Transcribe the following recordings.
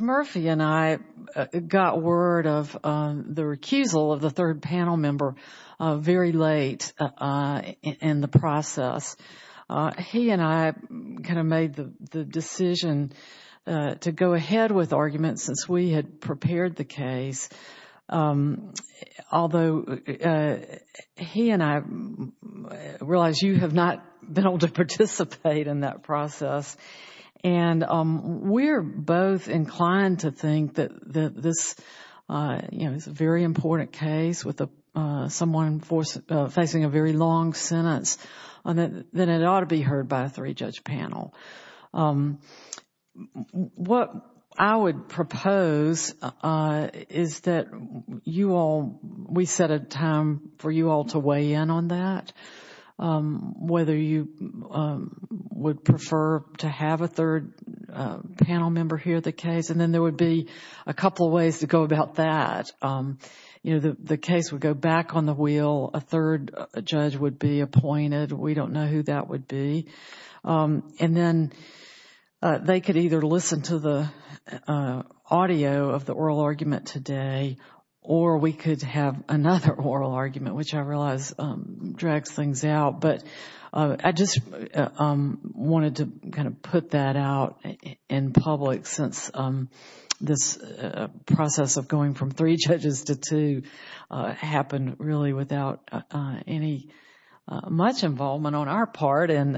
Murphy and I got word of the recusal of the third panel member very late in the process. He and I kind of made the decision to go ahead with arguments since we had prepared the case, although he and I realize you have not been able to participate in that process. And we're both inclined to think that this is a very important case with someone facing a very long sentence, and that it ought to be heard by a three-judge panel. What I would propose is that you all, we set a time for you all to weigh in on that, whether you would prefer to have a third panel member hear the case, and then there would be a couple of ways to go about that. You know, the case would go back on the wheel, a third judge would be appointed, we don't know who that would be. And then they could either listen to the audio of the oral argument today, or we could have another oral argument, which I realize drags things out. But I just wanted to kind of put that out in public since this process of going from three judges to two happened really without any much involvement on our part, and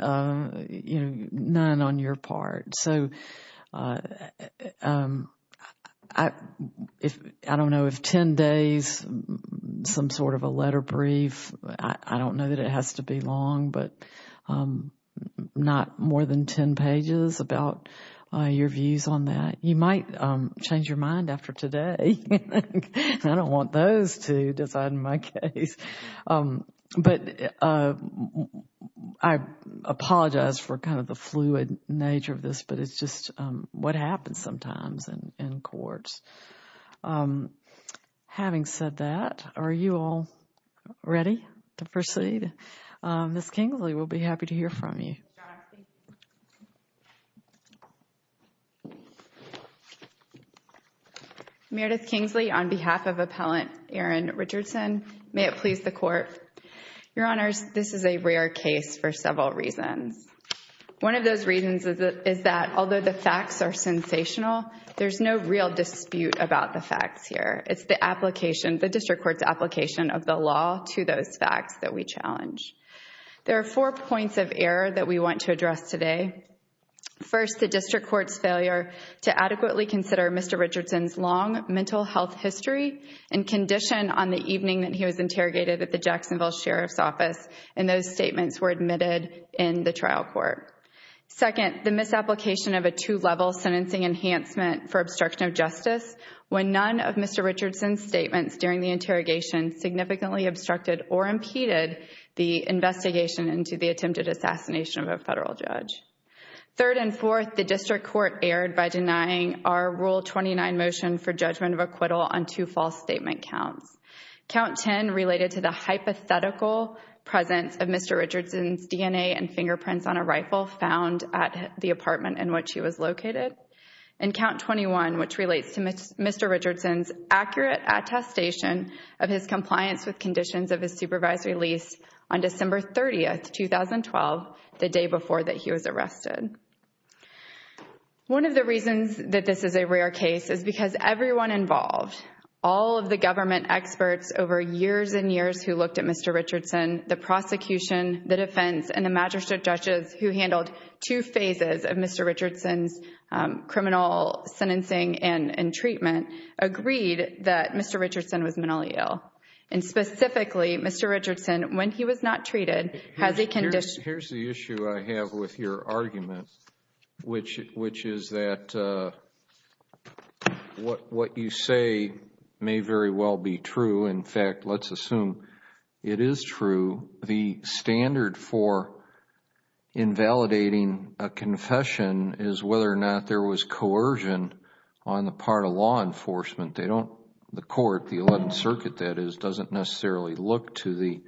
none on your part. So I don't know if ten days, some sort of a letter brief, I don't know that it has to be long, but not more than ten pages about your views on that. You might change your mind after today. I don't want those to decide my case. But I apologize for kind of the fluid nature of this, but it's just what happens sometimes in courts. Having said that, are you all ready to proceed? Ms. Kingsley, we'll be happy to hear from you. Ms. Johnox, please. Meredith Kingsley on behalf of Appellant Erin Richardson. May it please the Court. Your Honors, this is a rare case for several reasons. One of those reasons is that although the facts are sensational, there's no real dispute about the facts here. It's the District Court's application of the law to those facts that we challenge. There are four points of error that we want to address today. First, the District Court's failure to adequately consider Mr. Richardson's long mental health history and condition on the evening that he was interrogated at the Jacksonville Sheriff's Office, and those statements were admitted in the trial court. Second, the misapplication of a two-level sentencing enhancement for obstruction of justice when none of Mr. Richardson's statements during the interrogation significantly obstructed or impeded the investigation into the attempted assassination of a federal judge. Third and fourth, the District Court erred by denying our Rule 29 motion for judgment of acquittal on two false statement counts. Count 10 related to the hypothetical presence of Mr. Richardson's DNA and fingerprints on a rifle found at the apartment in which he was located. And count 21, which relates to Mr. Richardson's accurate attestation of his compliance with conditions of his supervisory lease on December 30, 2012, the day before that he was arrested. One of the reasons that this is a rare case is because everyone involved, all of the government experts over years and years who looked at Mr. Richardson, the prosecution, the defense, and the magistrate judges who handled two phases of Mr. Richardson's criminal sentencing and treatment, agreed that Mr. Richardson was mentally ill. And specifically, Mr. Richardson, when he was not treated, has a condition— Here's the issue I have with your argument, which is that what you say may very well be true. In fact, let's assume it is true. The standard for invalidating a confession is whether or not there was coercion on the part of law enforcement. The court, the 11th Circuit that is, doesn't necessarily look to the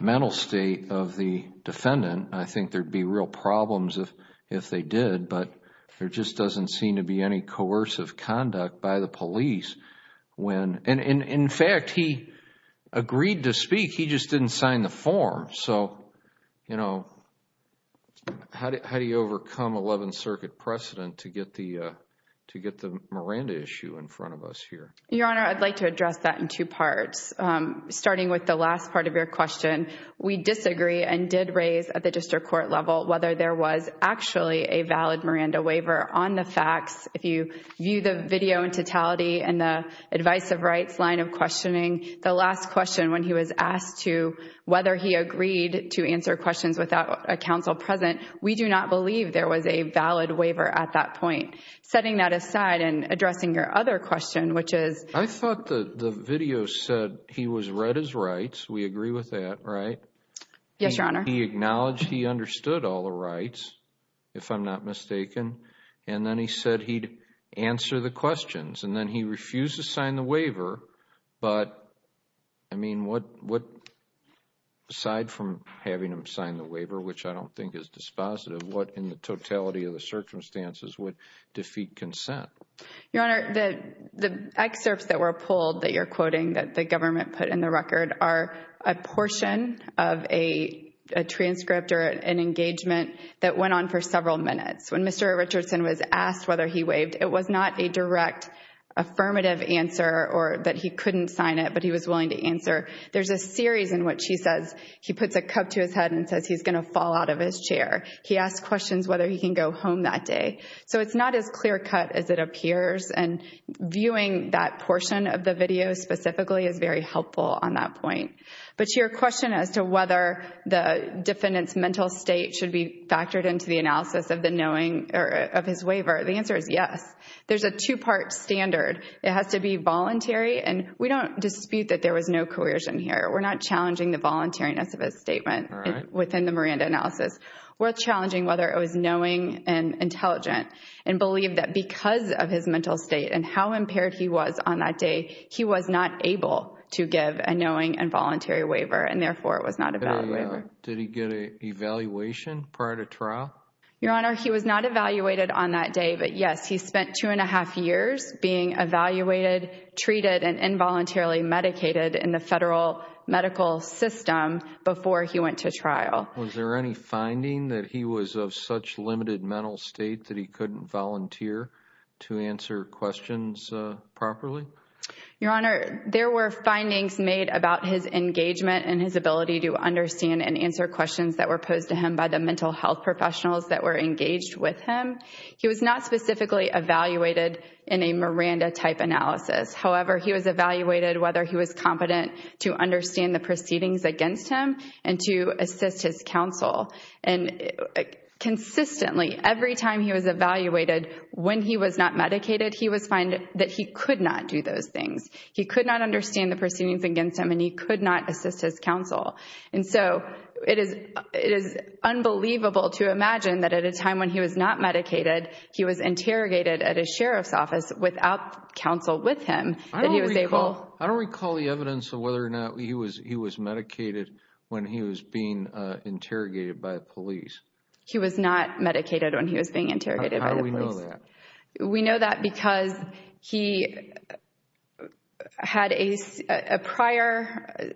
mental state of the defendant. I think there'd be real problems if they did, but there just doesn't seem to be any coercive conduct by the police. And in fact, he agreed to speak. He just didn't sign the form. So, you know, how do you overcome 11th Circuit precedent to get the Miranda issue in front of us here? Your Honor, I'd like to address that in two parts. Starting with the last part of your question, we disagree and did raise at the district court level whether there was actually a valid Miranda waiver on the facts. If you view the video in totality and the advice of rights line of questioning, the last question when he was asked to whether he agreed to answer questions without a counsel present, we do not believe there was a valid waiver at that point. Setting that aside and addressing your other question, which is— I thought the video said he was read his rights. We agree with that, right? Yes, Your Honor. He acknowledged he understood all the rights, if I'm not mistaken. And then he said he'd answer the questions. And then he refused to sign the waiver. But, I mean, what—aside from having him sign the waiver, which I don't think is dispositive, what in the totality of the circumstances would defeat consent? Your Honor, the excerpts that were pulled that you're quoting that the government put in the record are a portion of a transcript or an engagement that went on for several minutes. When Mr. Richardson was asked whether he waived, it was not a direct affirmative answer or that he couldn't sign it, but he was willing to answer. There's a series in which he says—he puts a cup to his head and says he's going to fall out of his chair. He asks questions whether he can go home that day. So it's not as clear cut as it appears. And viewing that portion of the video specifically is very helpful on that point. But your question as to whether the defendant's mental state should be factored into the of his waiver, the answer is yes. There's a two-part standard. It has to be voluntary, and we don't dispute that there was no coercion here. We're not challenging the voluntariness of his statement within the Miranda analysis. We're challenging whether it was knowing and intelligent and believe that because of his mental state and how impaired he was on that day, he was not able to give a knowing and voluntary waiver, and therefore it was not a valid waiver. Did he get an evaluation prior to trial? Your Honor, he was not evaluated on that day. But yes, he spent two and a half years being evaluated, treated, and involuntarily medicated in the federal medical system before he went to trial. Was there any finding that he was of such limited mental state that he couldn't volunteer to answer questions properly? Your Honor, there were findings made about his engagement and his ability to understand and answer questions that were posed to him by the mental health professionals that were engaged with him. He was not specifically evaluated in a Miranda-type analysis. However, he was evaluated whether he was competent to understand the proceedings against him and to assist his counsel. Consistently, every time he was evaluated, when he was not medicated, he was finding that he could not do those things. He could not understand the proceedings against him, and he could not assist his counsel. And so, it is unbelievable to imagine that at a time when he was not medicated, he was interrogated at a sheriff's office without counsel with him. I don't recall the evidence of whether or not he was medicated when he was being interrogated by the police. He was not medicated when he was being interrogated by the police. How do we know that? We know that because he had a prior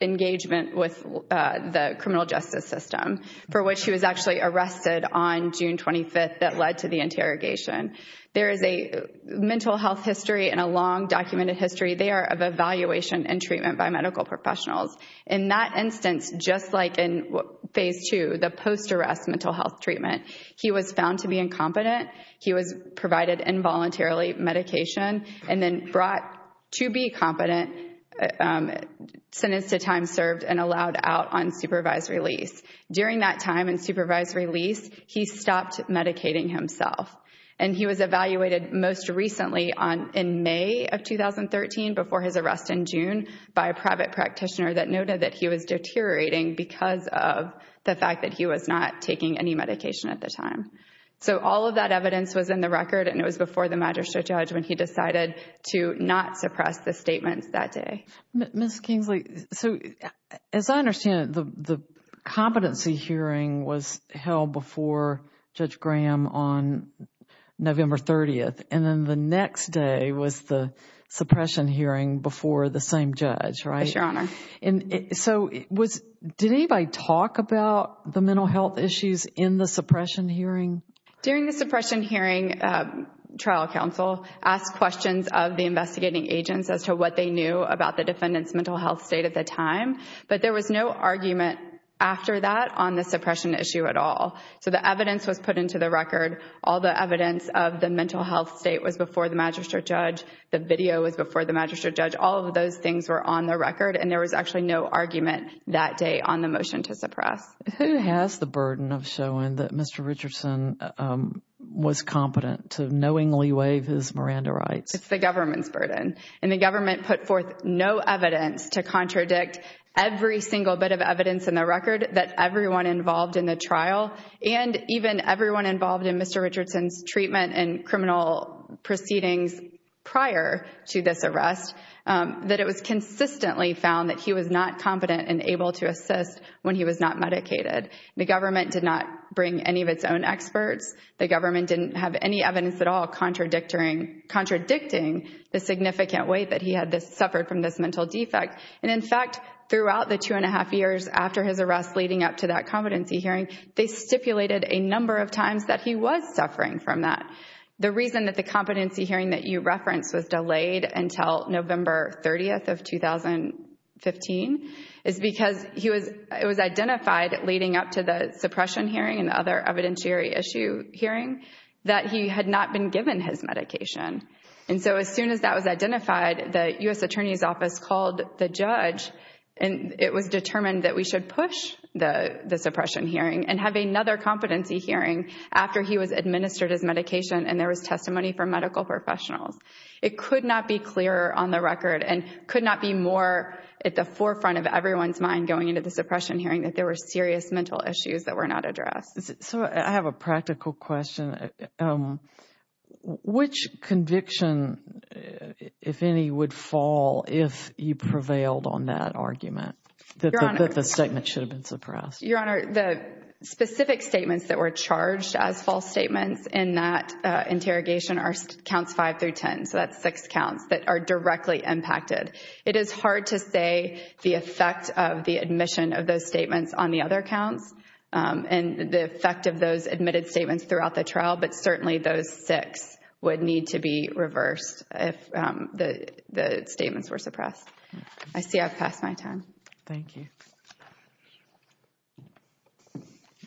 engagement with the criminal justice system for which he was actually arrested on June 25th that led to the interrogation. There is a mental health history and a long documented history there of evaluation and treatment by medical professionals. In that instance, just like in Phase 2, the post-arrest mental health treatment, he was found to be incompetent. He was provided involuntarily medication and then brought to be competent, sentenced to time served, and allowed out on supervised release. During that time in supervised release, he stopped medicating himself. And he was evaluated most recently in May of 2013 before his arrest in June by a private practitioner that noted that he was deteriorating because of the fact that he was not taking any medication at the time. So all of that evidence was in the record and it was before the magistrate judge when he decided to not suppress the statements that day. Ms. Kingsley, so as I understand it, the competency hearing was held before Judge Graham on November 30th and then the next day was the suppression hearing before the same judge, right? Yes, Your Honor. So did anybody talk about the mental health issues in the suppression hearing? During the suppression hearing, trial counsel asked questions of the investigating agents as to what they knew about the defendant's mental health state at the time. But there was no argument after that on the suppression issue at all. So the evidence was put into the record. All the evidence of the mental health state was before the magistrate judge. The video was before the magistrate judge. All of those things were on the record and there was actually no argument that day on the motion to suppress. Who has the burden of showing that Mr. Richardson was competent to knowingly waive his Miranda rights? It's the government's burden. And the government put forth no evidence to contradict every single bit of evidence in the record that everyone involved in the trial and even everyone involved in Mr. Richardson's criminal proceedings prior to this arrest, that it was consistently found that he was not competent and able to assist when he was not medicated. The government did not bring any of its own experts. The government didn't have any evidence at all contradicting the significant weight that he had suffered from this mental defect. And in fact, throughout the two and a half years after his arrest leading up to that a number of times that he was suffering from that. The reason that the competency hearing that you referenced was delayed until November 30th of 2015 is because it was identified leading up to the suppression hearing and other evidentiary issue hearing that he had not been given his medication. And so as soon as that was identified, the U.S. Attorney's Office called the judge and it was determined that we should push the suppression hearing and have another competency hearing after he was administered his medication and there was testimony from medical professionals. It could not be clearer on the record and could not be more at the forefront of everyone's mind going into the suppression hearing that there were serious mental issues that were not addressed. So I have a practical question. Which conviction, if any, would fall if you prevailed on that argument? The statement should have been suppressed. Your Honor, the specific statements that were charged as false statements in that interrogation are counts five through ten. So that's six counts that are directly impacted. It is hard to say the effect of the admission of those statements on the other counts and the effect of those admitted statements throughout the trial. But certainly those six would need to be reversed if the statements were suppressed. I see I've passed my time. Thank you.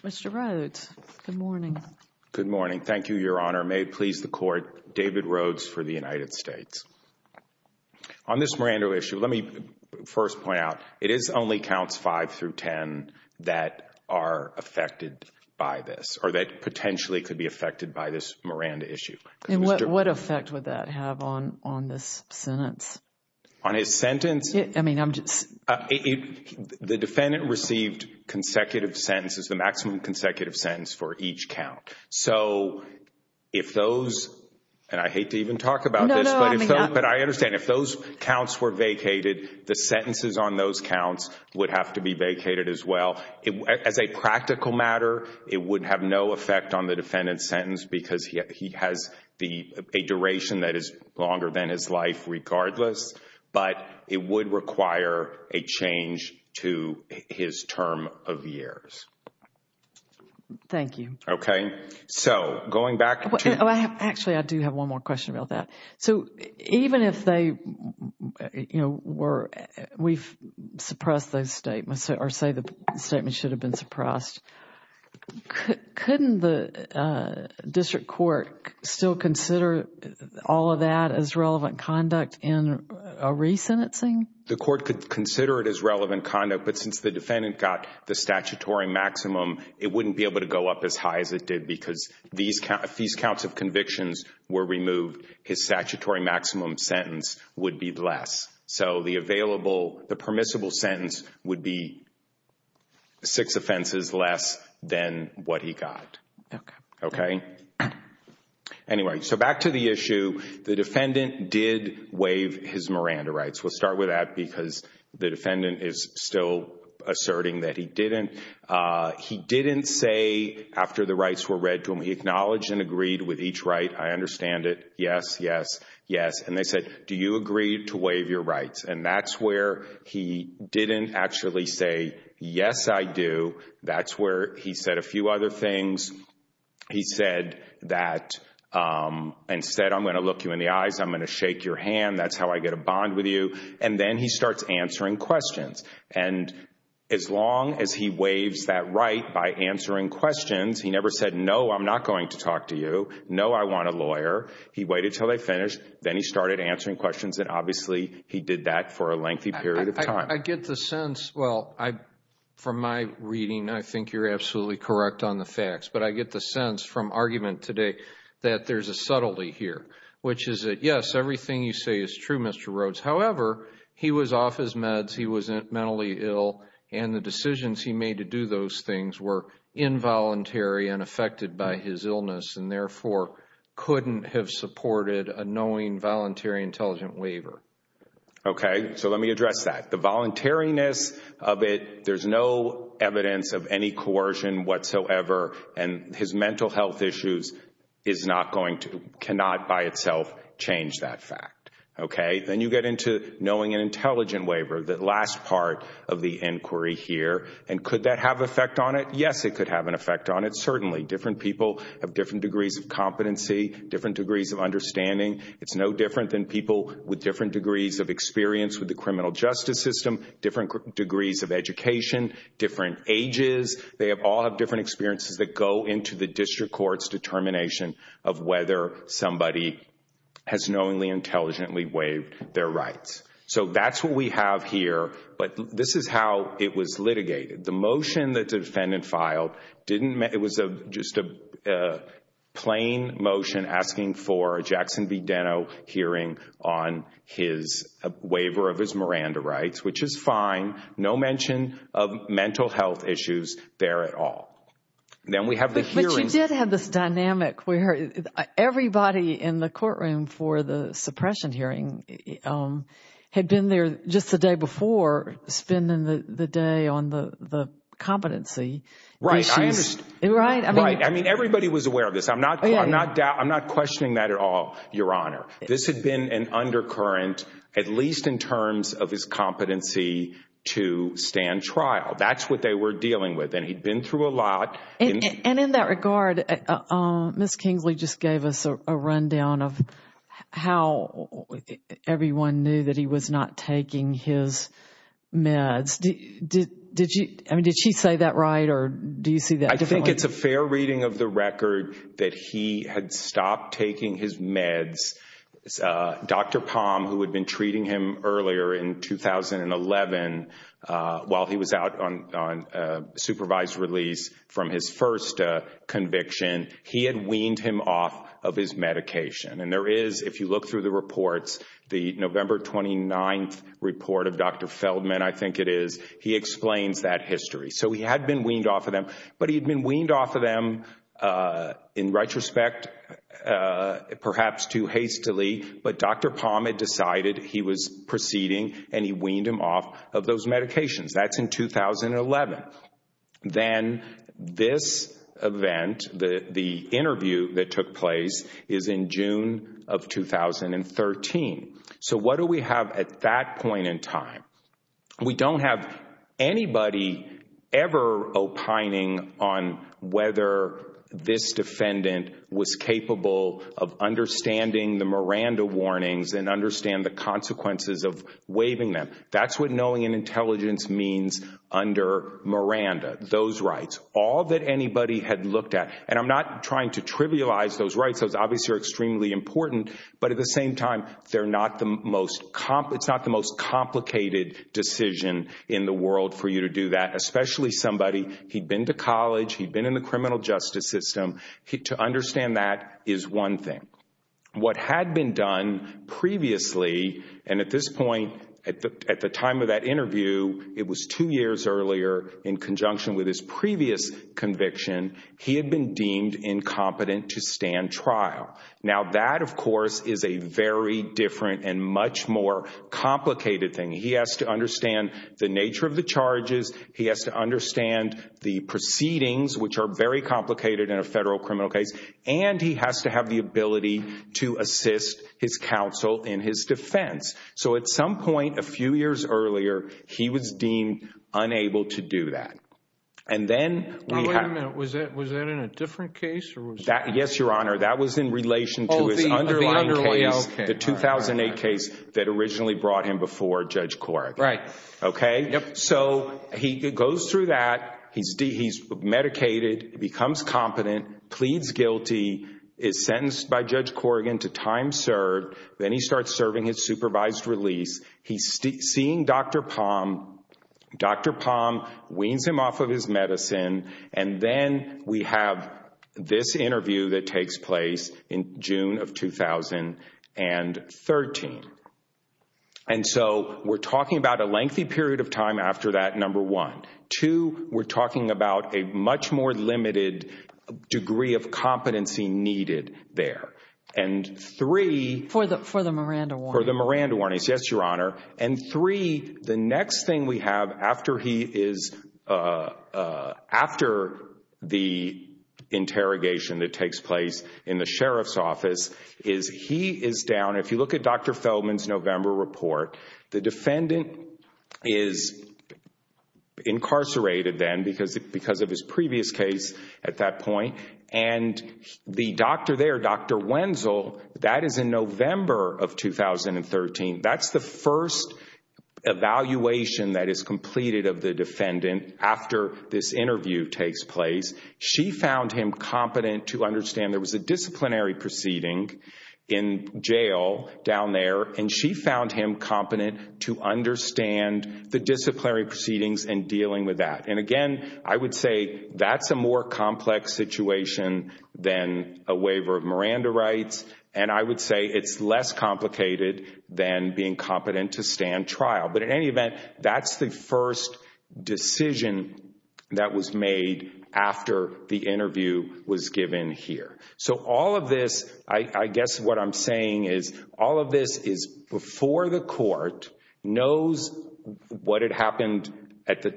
Mr. Rhodes, good morning. Good morning. Thank you, Your Honor. May it please the Court. David Rhodes for the United States. On this Miranda issue, let me first point out it is only counts five through ten that are affected by this or that potentially could be affected by this Miranda issue. What effect would that have on this sentence? On his sentence? The defendant received consecutive sentences, the maximum consecutive sentence for each count. So if those, and I hate to even talk about this, but I understand if those counts were vacated, the sentences on those counts would have to be vacated as well. As a practical matter, it would have no effect on the defendant's sentence because he has a duration that is longer than his life regardless. But it would require a change to his term of years. Thank you. Okay. So going back to... Oh, actually, I do have one more question about that. So even if they, you know, were, we've suppressed those statements or say the statement should have been suppressed. Couldn't the district court still consider all of that as relevant conduct in a resentencing? The court could consider it as relevant conduct. But since the defendant got the statutory maximum, it wouldn't be able to go up as high as it did because if these counts of convictions were removed, his statutory maximum sentence would be less. So the available, the permissible sentence would be six offenses less than what he got. Okay. Anyway, so back to the issue. The defendant did waive his Miranda rights. We'll start with that because the defendant is still asserting that he didn't. He didn't say after the rights were read to him, he acknowledged and agreed with each right. I understand it. Yes, yes, yes. And they said, do you agree to waive your rights? And that's where he didn't actually say, yes, I do. That's where he said a few other things. He said that, instead, I'm going to look you in the eyes. I'm going to shake your hand. That's how I get a bond with you. And then he starts answering questions. And as long as he waives that right by answering questions, he never said, no, I'm not going to talk to you. No, I want a lawyer. He waited until they finished. Then he started answering questions. And obviously, he did that for a lengthy period of time. I get the sense, well, from my reading, I think you're absolutely correct on the facts. But I get the sense from argument today that there's a subtlety here, which is that, yes, everything you say is true, Mr. Rhodes. However, he was off his meds. He was mentally ill. And the decisions he made to do those things were involuntary and affected by his illness and therefore couldn't have supported a knowing, voluntary, intelligent waiver. Okay. So let me address that. The voluntariness of it, there's no evidence of any coercion whatsoever. And his mental health issues is not going to, cannot by itself change that fact. Okay. Then you get into knowing and intelligent waiver, the last part of the inquiry here. And could that have effect on it? Yes, it could have an effect on it, certainly. Different people have different degrees of competency, different degrees of understanding. It's no different than people with different degrees of experience with the criminal justice system, different degrees of education, different ages. They all have different experiences that go into the district court's determination of whether somebody has knowingly, intelligently waived their rights. So that's what we have here. But this is how it was litigated. The motion that the defendant filed didn't, it was just a plain motion asking for a Jackson v. Deno hearing on his waiver of his Miranda rights, which is fine. No mention of mental health issues there at all. Then we have the hearing. But you did have this dynamic where everybody in the courtroom for the suppression hearing had been there just the day before, spending the day on the competency issues. Right. I understand. Right. Right. I mean, everybody was aware of this. I'm not questioning that at all, Your Honor. This had been an undercurrent, at least in terms of his competency to stand trial. That's what they were dealing with. And he'd been through a lot. And in that regard, Ms. Kingsley just gave us a rundown of how everyone knew that he was not taking his meds. I mean, did she say that right? Or do you see that differently? I think it's a fair reading of the record that he had stopped taking his meds. Dr. Palm, who had been treating him earlier in 2011, while he was out on supervised release from his first conviction, he had weaned him off of his medication. And there is, if you look through the reports, the November 29th report of Dr. Feldman, I think it is, he explains that history. So he had been weaned off of them. But he'd been weaned off of them in retrospect, perhaps too hastily. But Dr. Palm had decided he was proceeding, and he weaned him off of those medications. That's in 2011. Then this event, the interview that took place, is in June of 2013. So what do we have at that point in time? We don't have anybody ever opining on whether this defendant was capable of understanding the Miranda warnings and understand the consequences of waiving them. That's what knowing and intelligence means under Miranda. Those rights. All that anybody had looked at. And I'm not trying to trivialize those rights. Those obviously are extremely important. But at the same time, it's not the most complicated decision in the world for you to do that. Especially somebody, he'd been to college, he'd been in the criminal justice system. To understand that is one thing. What had been done previously, and at this point, at the time of that interview, it was two years earlier, in conjunction with his previous conviction, he had been deemed incompetent to stand trial. Now that, of course, is a very different and much more complicated thing. He has to understand the nature of the charges. He has to understand the proceedings, which are very complicated in a federal criminal case. And he has to have the ability to assist his counsel in his defense. So at some point, a few years earlier, he was deemed unable to do that. And then we have- Now, wait a minute. Was that in a different case, or was that- Yes, Your Honor. That was in relation to his underlying case, the 2008 case, that originally brought him before Judge Corrigan. Right. Okay? So he goes through that. He's medicated, becomes competent, pleads guilty, is sentenced by Judge Corrigan to time served. Then he starts serving his supervised release. He's seeing Dr. Palm. Dr. Palm weans him off of his medicine. And then we have this interview that takes place in June of 2013. And so we're talking about a lengthy period of time after that, number one. Two, we're talking about a much more limited degree of competency needed there. And three- For the Miranda warnings. For the Miranda warnings, yes, Your Honor. And three, the next thing we have after the interrogation that takes place in the Sheriff's is he is down. If you look at Dr. Feldman's November report, the defendant is incarcerated then because of his previous case at that point. And the doctor there, Dr. Wenzel, that is in November of 2013. That's the first evaluation that is completed of the defendant after this interview takes place. She found him competent to understand there was a disciplinary proceeding in jail down there. And she found him competent to understand the disciplinary proceedings and dealing with that. And again, I would say that's a more complex situation than a waiver of Miranda rights. And I would say it's less complicated than being competent to stand trial. But in any event, that's the first decision that was made after the interview was given here. So all of this, I guess what I'm saying is all of this is before the court knows what had happened at the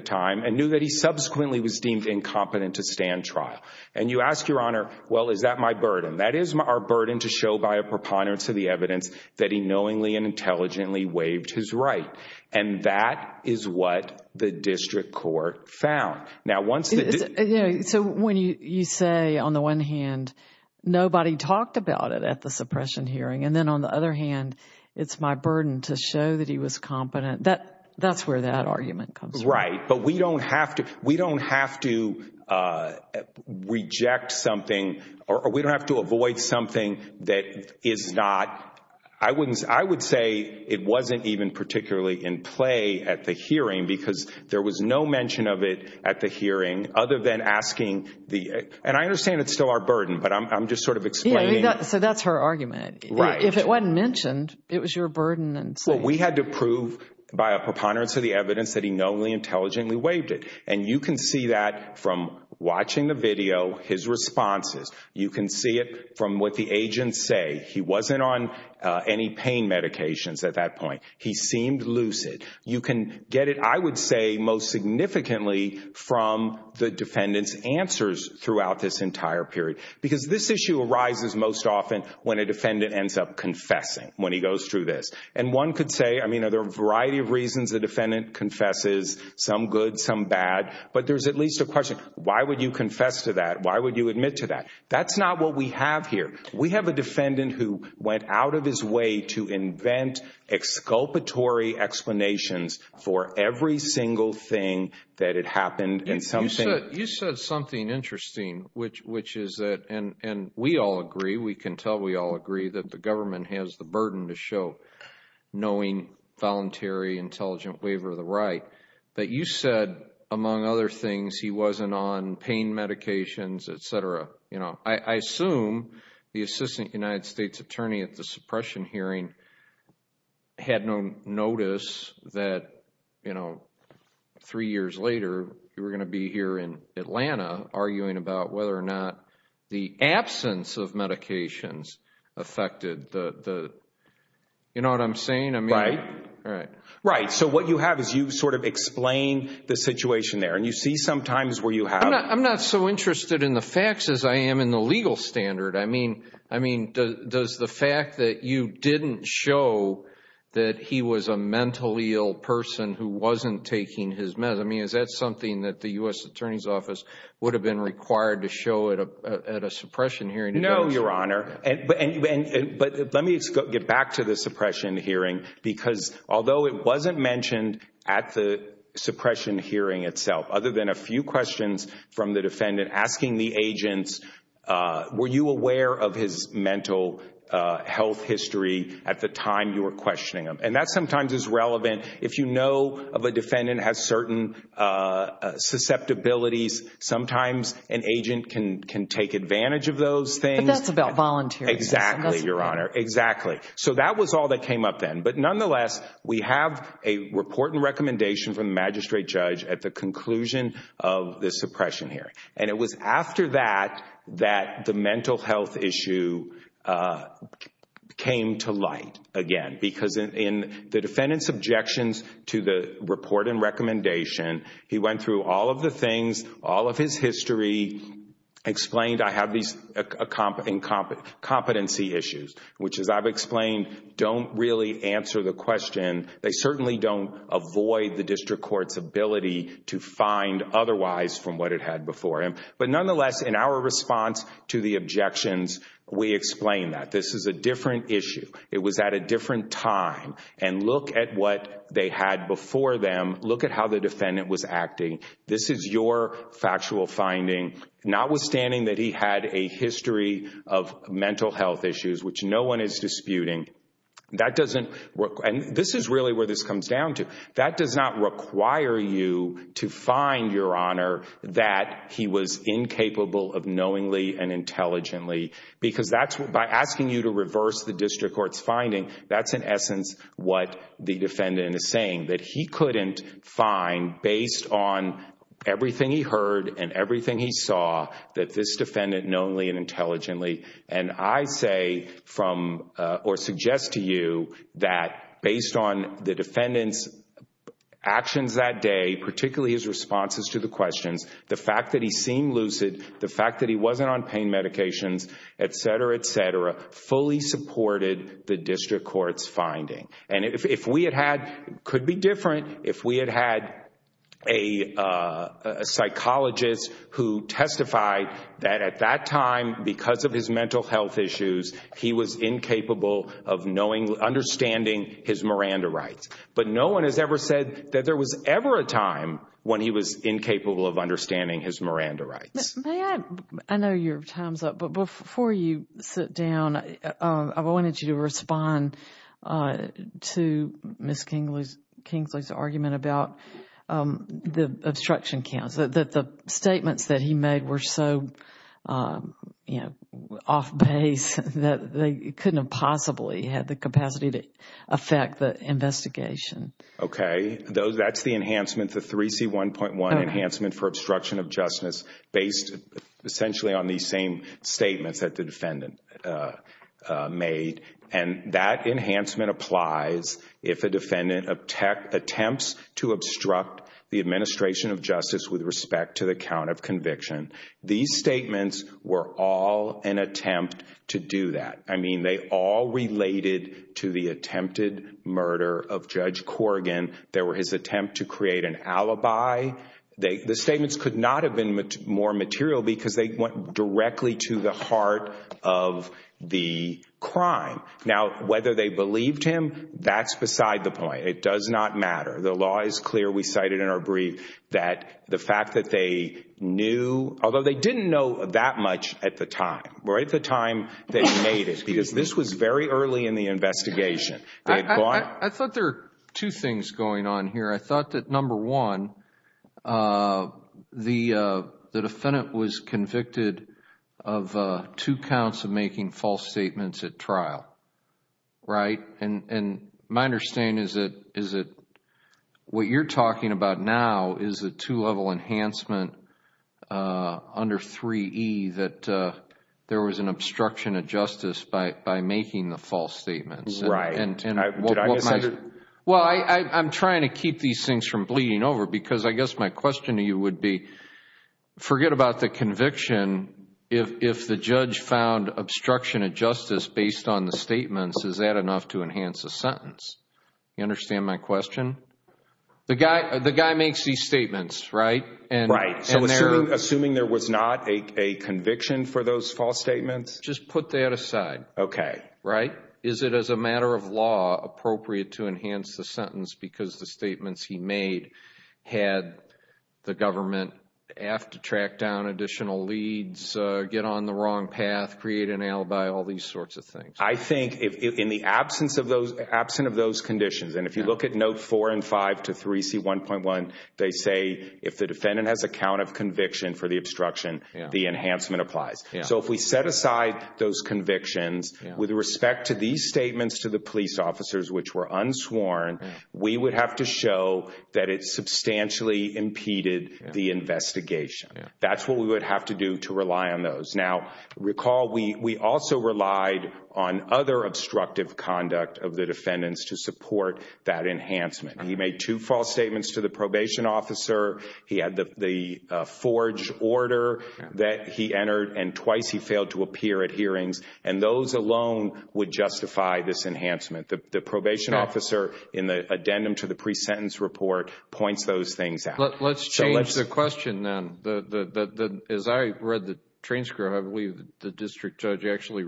time and knew that he subsequently was deemed incompetent to stand trial. And you ask, Your Honor, well, is that my burden? That is our burden to show by a preponderance of the evidence that he knowingly and intelligently waived his right. And that is what the district court found. Now, once... So when you say, on the one hand, nobody talked about it at the suppression hearing, and then on the other hand, it's my burden to show that he was competent, that's where that argument comes from. Right. But we don't have to reject something or we don't have to avoid something that is not, I wouldn't, I would say it wasn't even particularly in play at the hearing because there was no mention of it at the hearing other than asking the... And I understand it's still our burden, but I'm just sort of explaining... Yeah, so that's her argument. Right. If it wasn't mentioned, it was your burden and... Well, we had to prove by a preponderance of the evidence that he knowingly and intelligently waived it. And you can see that from watching the video, his responses. You can see it from what the agents say. He wasn't on any pain medications at that point. He seemed lucid. You can get it, I would say, most significantly from the defendant's answers throughout this entire period because this issue arises most often when a defendant ends up confessing when he goes through this. And one could say, I mean, there are a variety of reasons the defendant confesses, some good, some bad, but there's at least a question, why would you confess to that? Why would you admit to that? That's not what we have here. We have a defendant who went out of his way to invent exculpatory explanations for every single thing that had happened and something... You said something interesting, which is that, and we all agree, we can tell we all agree, that the government has the burden to show knowing, voluntary, intelligent waiver of the right, that you said, among other things, he wasn't on pain medications, etc. I assume the assistant United States attorney at the suppression hearing had no notice that three years later, you were going to be here in Atlanta arguing about whether or not the absence of medications affected the... You know what I'm saying? Right. Right. So what you have is you sort of explain the situation there, and you see sometimes where you have... I'm not so interested in the facts as I am in the legal standard. I mean, does the fact that you didn't show that he was a mentally ill person who wasn't taking his meds, I mean, is that something that the U.S. Attorney's Office would have been required to show at a suppression hearing? No, Your Honor, but let me get back to the suppression hearing, because although it wasn't from the defendant asking the agents, were you aware of his mental health history at the time you were questioning him? And that sometimes is relevant if you know of a defendant has certain susceptibilities, sometimes an agent can take advantage of those things. But that's about volunteering. Exactly, Your Honor. Exactly. So that was all that came up then. But nonetheless, we have a report and recommendation from the magistrate judge at the And it was after that that the mental health issue came to light again, because in the defendant's objections to the report and recommendation, he went through all of the things, all of his history, explained, I have these incompetency issues, which as I've explained, don't really answer the question. They certainly don't avoid the district court's ability to find otherwise from what it had before him. But nonetheless, in our response to the objections, we explained that this is a different issue. It was at a different time. And look at what they had before them. Look at how the defendant was acting. This is your factual finding, notwithstanding that he had a history of mental health issues, which no one is disputing. That doesn't work. And this is really where this comes down to. That does not require you to find, Your Honor, that he was incapable of knowingly and intelligently. Because by asking you to reverse the district court's finding, that's in essence what the defendant is saying, that he couldn't find, based on everything he heard and everything he saw, that this defendant knowingly and intelligently. And I suggest to you that based on the defendant's actions that day, particularly his responses to the questions, the fact that he seemed lucid, the fact that he wasn't on pain medications, et cetera, et cetera, fully supported the district court's finding. And it could be different if we had had a psychologist who testified that at that time, because of his mental health issues, he was incapable of knowingly, understanding his Miranda rights. But no one has ever said that there was ever a time when he was incapable of understanding his Miranda rights. May I? I know your time is up, but before you sit down, I wanted you to respond to Ms. Kingsley's about the obstruction counts, that the statements that he made were so off base that they couldn't have possibly had the capacity to affect the investigation. Okay, that's the enhancement, the 3C1.1 Enhancement for Obstruction of Justice, based essentially on these same statements that the defendant made. And that enhancement applies if a defendant attempts to obstruct the administration of justice with respect to the count of conviction. These statements were all an attempt to do that. I mean, they all related to the attempted murder of Judge Corrigan. They were his attempt to create an alibi. The statements could not have been more material because they went directly to the heart of the crime. Now, whether they believed him, that's beside the point. It does not matter. The law is clear. We cited in our brief that the fact that they knew, although they didn't know that much at the time, right at the time they made it, because this was very early in the investigation. I thought there were two things going on here. I thought that number one, the defendant was convicted of two counts of making false statements at trial, right? And my understanding is that what you're talking about now is a two-level enhancement under 3E that there was an obstruction of justice by making the false statements. Right. Well, I'm trying to keep these things from bleeding over because I guess my question to you would be, forget about the conviction, if the judge found obstruction of justice based on the statements, is that enough to enhance a sentence? You understand my question? The guy makes these statements, right? Right. So assuming there was not a conviction for those false statements? Just put that aside. Okay. Right? Is it, as a matter of law, appropriate to enhance the sentence because the statements he made had the government have to track down additional leads, get on the wrong path, create an alibi, all these sorts of things? I think in the absence of those, absent of those conditions, and if you look at note four and five to 3C1.1, they say if the defendant has a count of conviction for the obstruction, the enhancement applies. So if we set aside those convictions with respect to these statements to the police officers, which were unsworn, we would have to show that it substantially impeded the investigation. That's what we would have to do to rely on those. Now, recall, we also relied on other obstructive conduct of the defendants to support that enhancement. He made two false statements to the probation officer. He had the forged order that he entered, and twice he failed to appear at hearings. And those alone would justify this enhancement. The probation officer, in the addendum to the pre-sentence report, points those things out. Let's change the question, then. As I read the transcript, I believe the district judge actually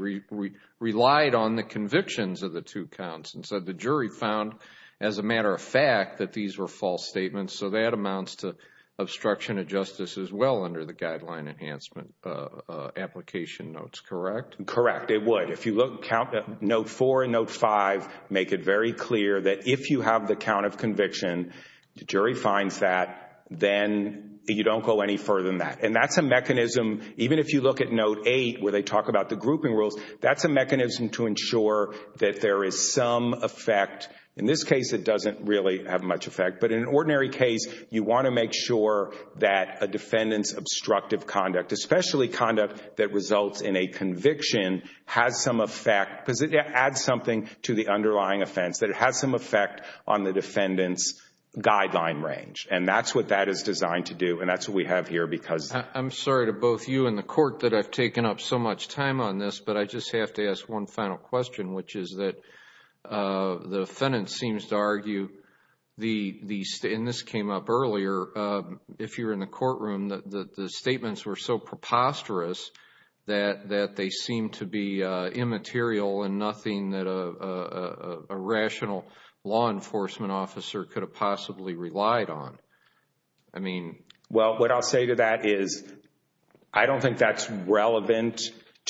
relied on the convictions of the two counts. And so the jury found, as a matter of fact, that these were false statements. So that amounts to obstruction of justice as well under the guideline enhancement application notes, correct? Correct. It would. If you look at note four and note five, make it very clear that if you have the count of conviction, the jury finds that, then you don't go any further than that. And that's a mechanism, even if you look at note eight, where they talk about the grouping rules, that's a mechanism to ensure that there is some effect. In this case, it doesn't really have much effect. But in an ordinary case, you want to make sure that a defendant's obstructive conduct, especially conduct that results in a conviction, has some effect. Because it adds something to the underlying offense, that it has some effect on the defendant's guideline range. And that's what that is designed to do. And that's what we have here because— I'm sorry to both you and the Court that I've taken up so much time on this. But I just have to ask one final question, which is that the defendant seems to argue the—and this came up earlier—if you're in the courtroom, that the statements were so preposterous that they seem to be immaterial and nothing that a rational law enforcement officer could have possibly relied on. I mean— Well, what I'll say to that is, I don't think that's relevant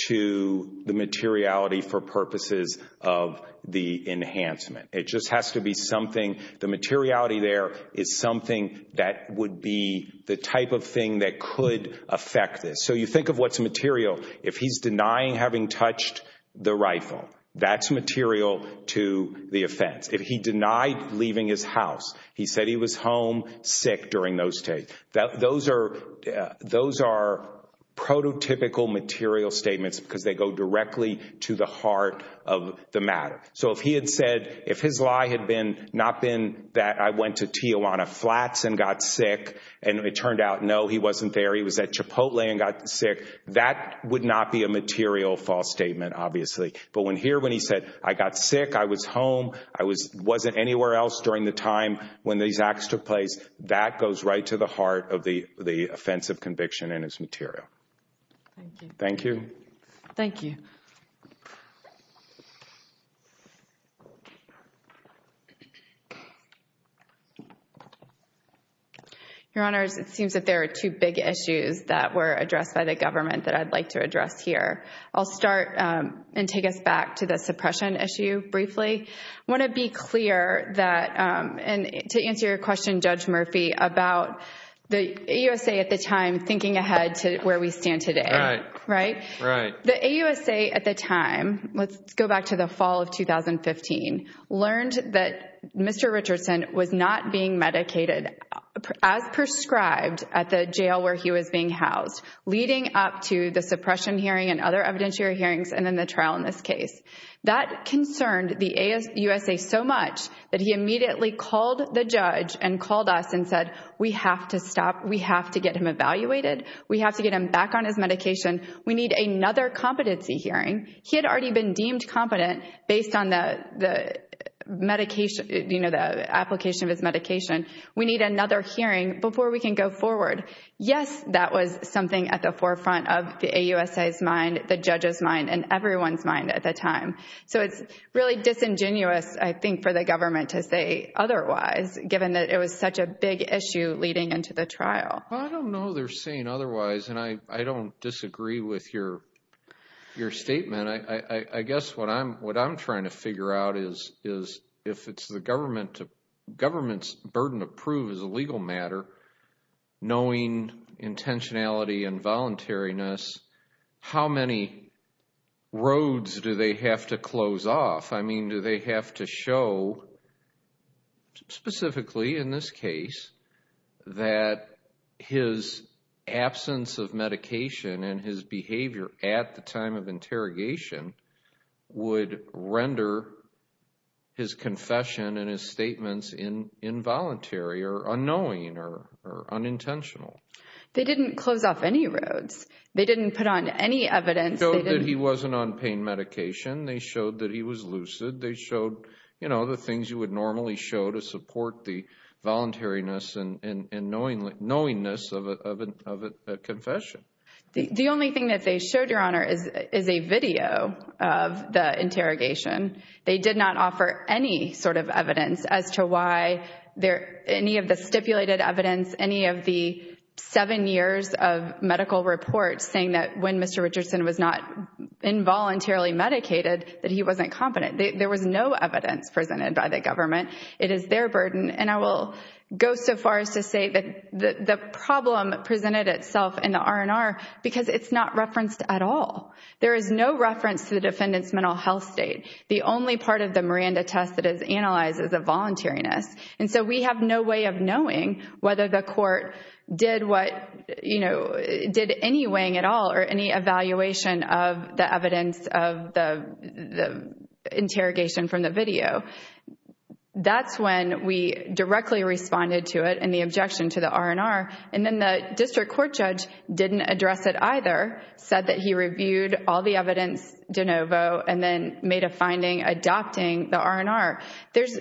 to the materiality for purposes of the enhancement. It just has to be something—the materiality there is something that would be the type of thing that could affect this. So you think of what's material. If he's denying having touched the rifle, that's material to the offense. If he denied leaving his house, he said he was home sick during those days, those are prototypical material statements because they go directly to the heart of the matter. So if he had said—if his lie had not been that I went to Tijuana Flats and got sick and it turned out, no, he wasn't there, he was at Chipotle and got sick, that would not be a material false statement, obviously. But when here, when he said, I got sick, I was home, I wasn't anywhere else during the time when these acts took place, that goes right to the heart of the offensive conviction in his material. Thank you. Thank you. Your Honor, it seems that there are two big issues that were addressed by the government that I'd like to address here. I'll start and take us back to the suppression issue briefly. I want to be clear that—and to answer your question, Judge Murphy, about the AUSA at the time thinking ahead to where we stand today. Right. Right? Right. The AUSA at the time—let's go back to the fall of 2015—learned that Mr. Richardson was not being medicated as prescribed at the jail where he was being housed, leading up to the suppression hearing and other evidentiary hearings and then the trial in this case. That concerned the AUSA so much that he immediately called the judge and called us and said, we have to stop. We have to get him evaluated. We have to get him back on his medication. We need another competency hearing. He had already been deemed competent based on the application of his medication. We need another hearing before we can go forward. Yes, that was something at the forefront of the AUSA's mind, the judge's mind, and everyone's mind at the time. So it's really disingenuous, I think, for the government to say otherwise, given that it was such a big issue leading into the trial. I don't know they're saying otherwise, and I don't disagree with your statement. I guess what I'm trying to figure out is if it's the government's burden to prove is a legal matter, knowing intentionality and voluntariness, how many roads do they have to close off? Do they have to show, specifically in this case, that his absence of medication and his behavior at the time of interrogation would render his confession and his statements involuntary or unknowing or unintentional? They didn't close off any roads. They didn't put on any evidence. They showed that he wasn't on pain medication. They showed that he was lucid. They showed the things you would normally show to support the voluntariness and knowingness of a confession. The only thing that they showed, Your Honor, is a video of the interrogation. They did not offer any sort of evidence as to why any of the stipulated evidence, any of the seven years of medical reports saying that when Mr. Richardson was not involuntarily medicated, that he wasn't competent. There was no evidence presented by the government. It is their burden. And I will go so far as to say that the problem presented itself in the R&R because it's not referenced at all. There is no reference to the defendant's mental health state. The only part of the Miranda test that is analyzed is the voluntariness. And so we have no way of knowing whether the court did what, you know, did any weighing at all or any evaluation of the evidence of the interrogation from the video. That's when we directly responded to it and the objection to the R&R. And then the district court judge didn't address it either, said that he reviewed all the evidence de novo and then made a finding adopting the R&R.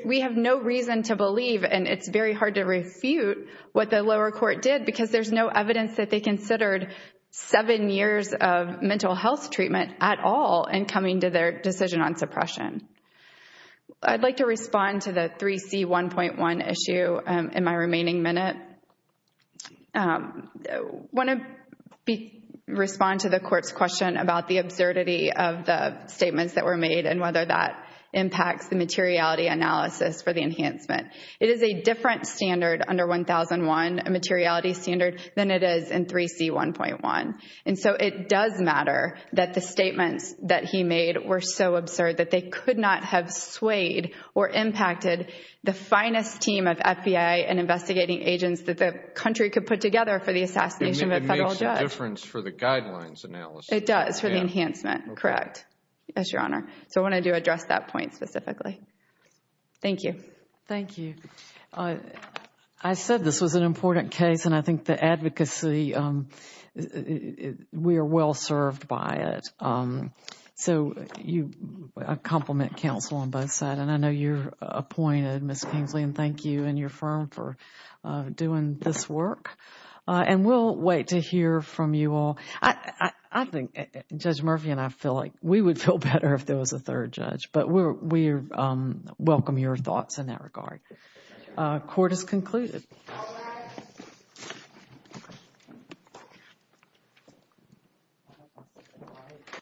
We have no reason to believe, and it's very hard to refute, what the lower court did because there's no evidence that they considered seven years of mental health treatment at all in coming to their decision on suppression. I'd like to respond to the 3C1.1 issue in my remaining minute. I want to respond to the court's question about the absurdity of the statements that were made and whether that impacts the materiality analysis for the enhancement. It is a different standard under 1001, a materiality standard, than it is in 3C1.1. And so it does matter that the statements that he made were so absurd that they could not have swayed or impacted the finest team of FBI and investigating agents that the country could put together for the assassination of a federal judge. It makes a difference for the guidelines analysis. It does for the enhancement. Correct. Yes, Your Honor. So I wanted to address that point specifically. Thank you. Thank you. I said this was an important case and I think the advocacy, we are well served by it. So I compliment counsel on both sides and I know you're appointed, Ms. Kingsley, and thank you and your firm for doing this work. And we'll wait to hear from you all. I think Judge Murphy and I feel like we would feel better if there was a third judge, but we welcome your thoughts in that regard. Court is concluded.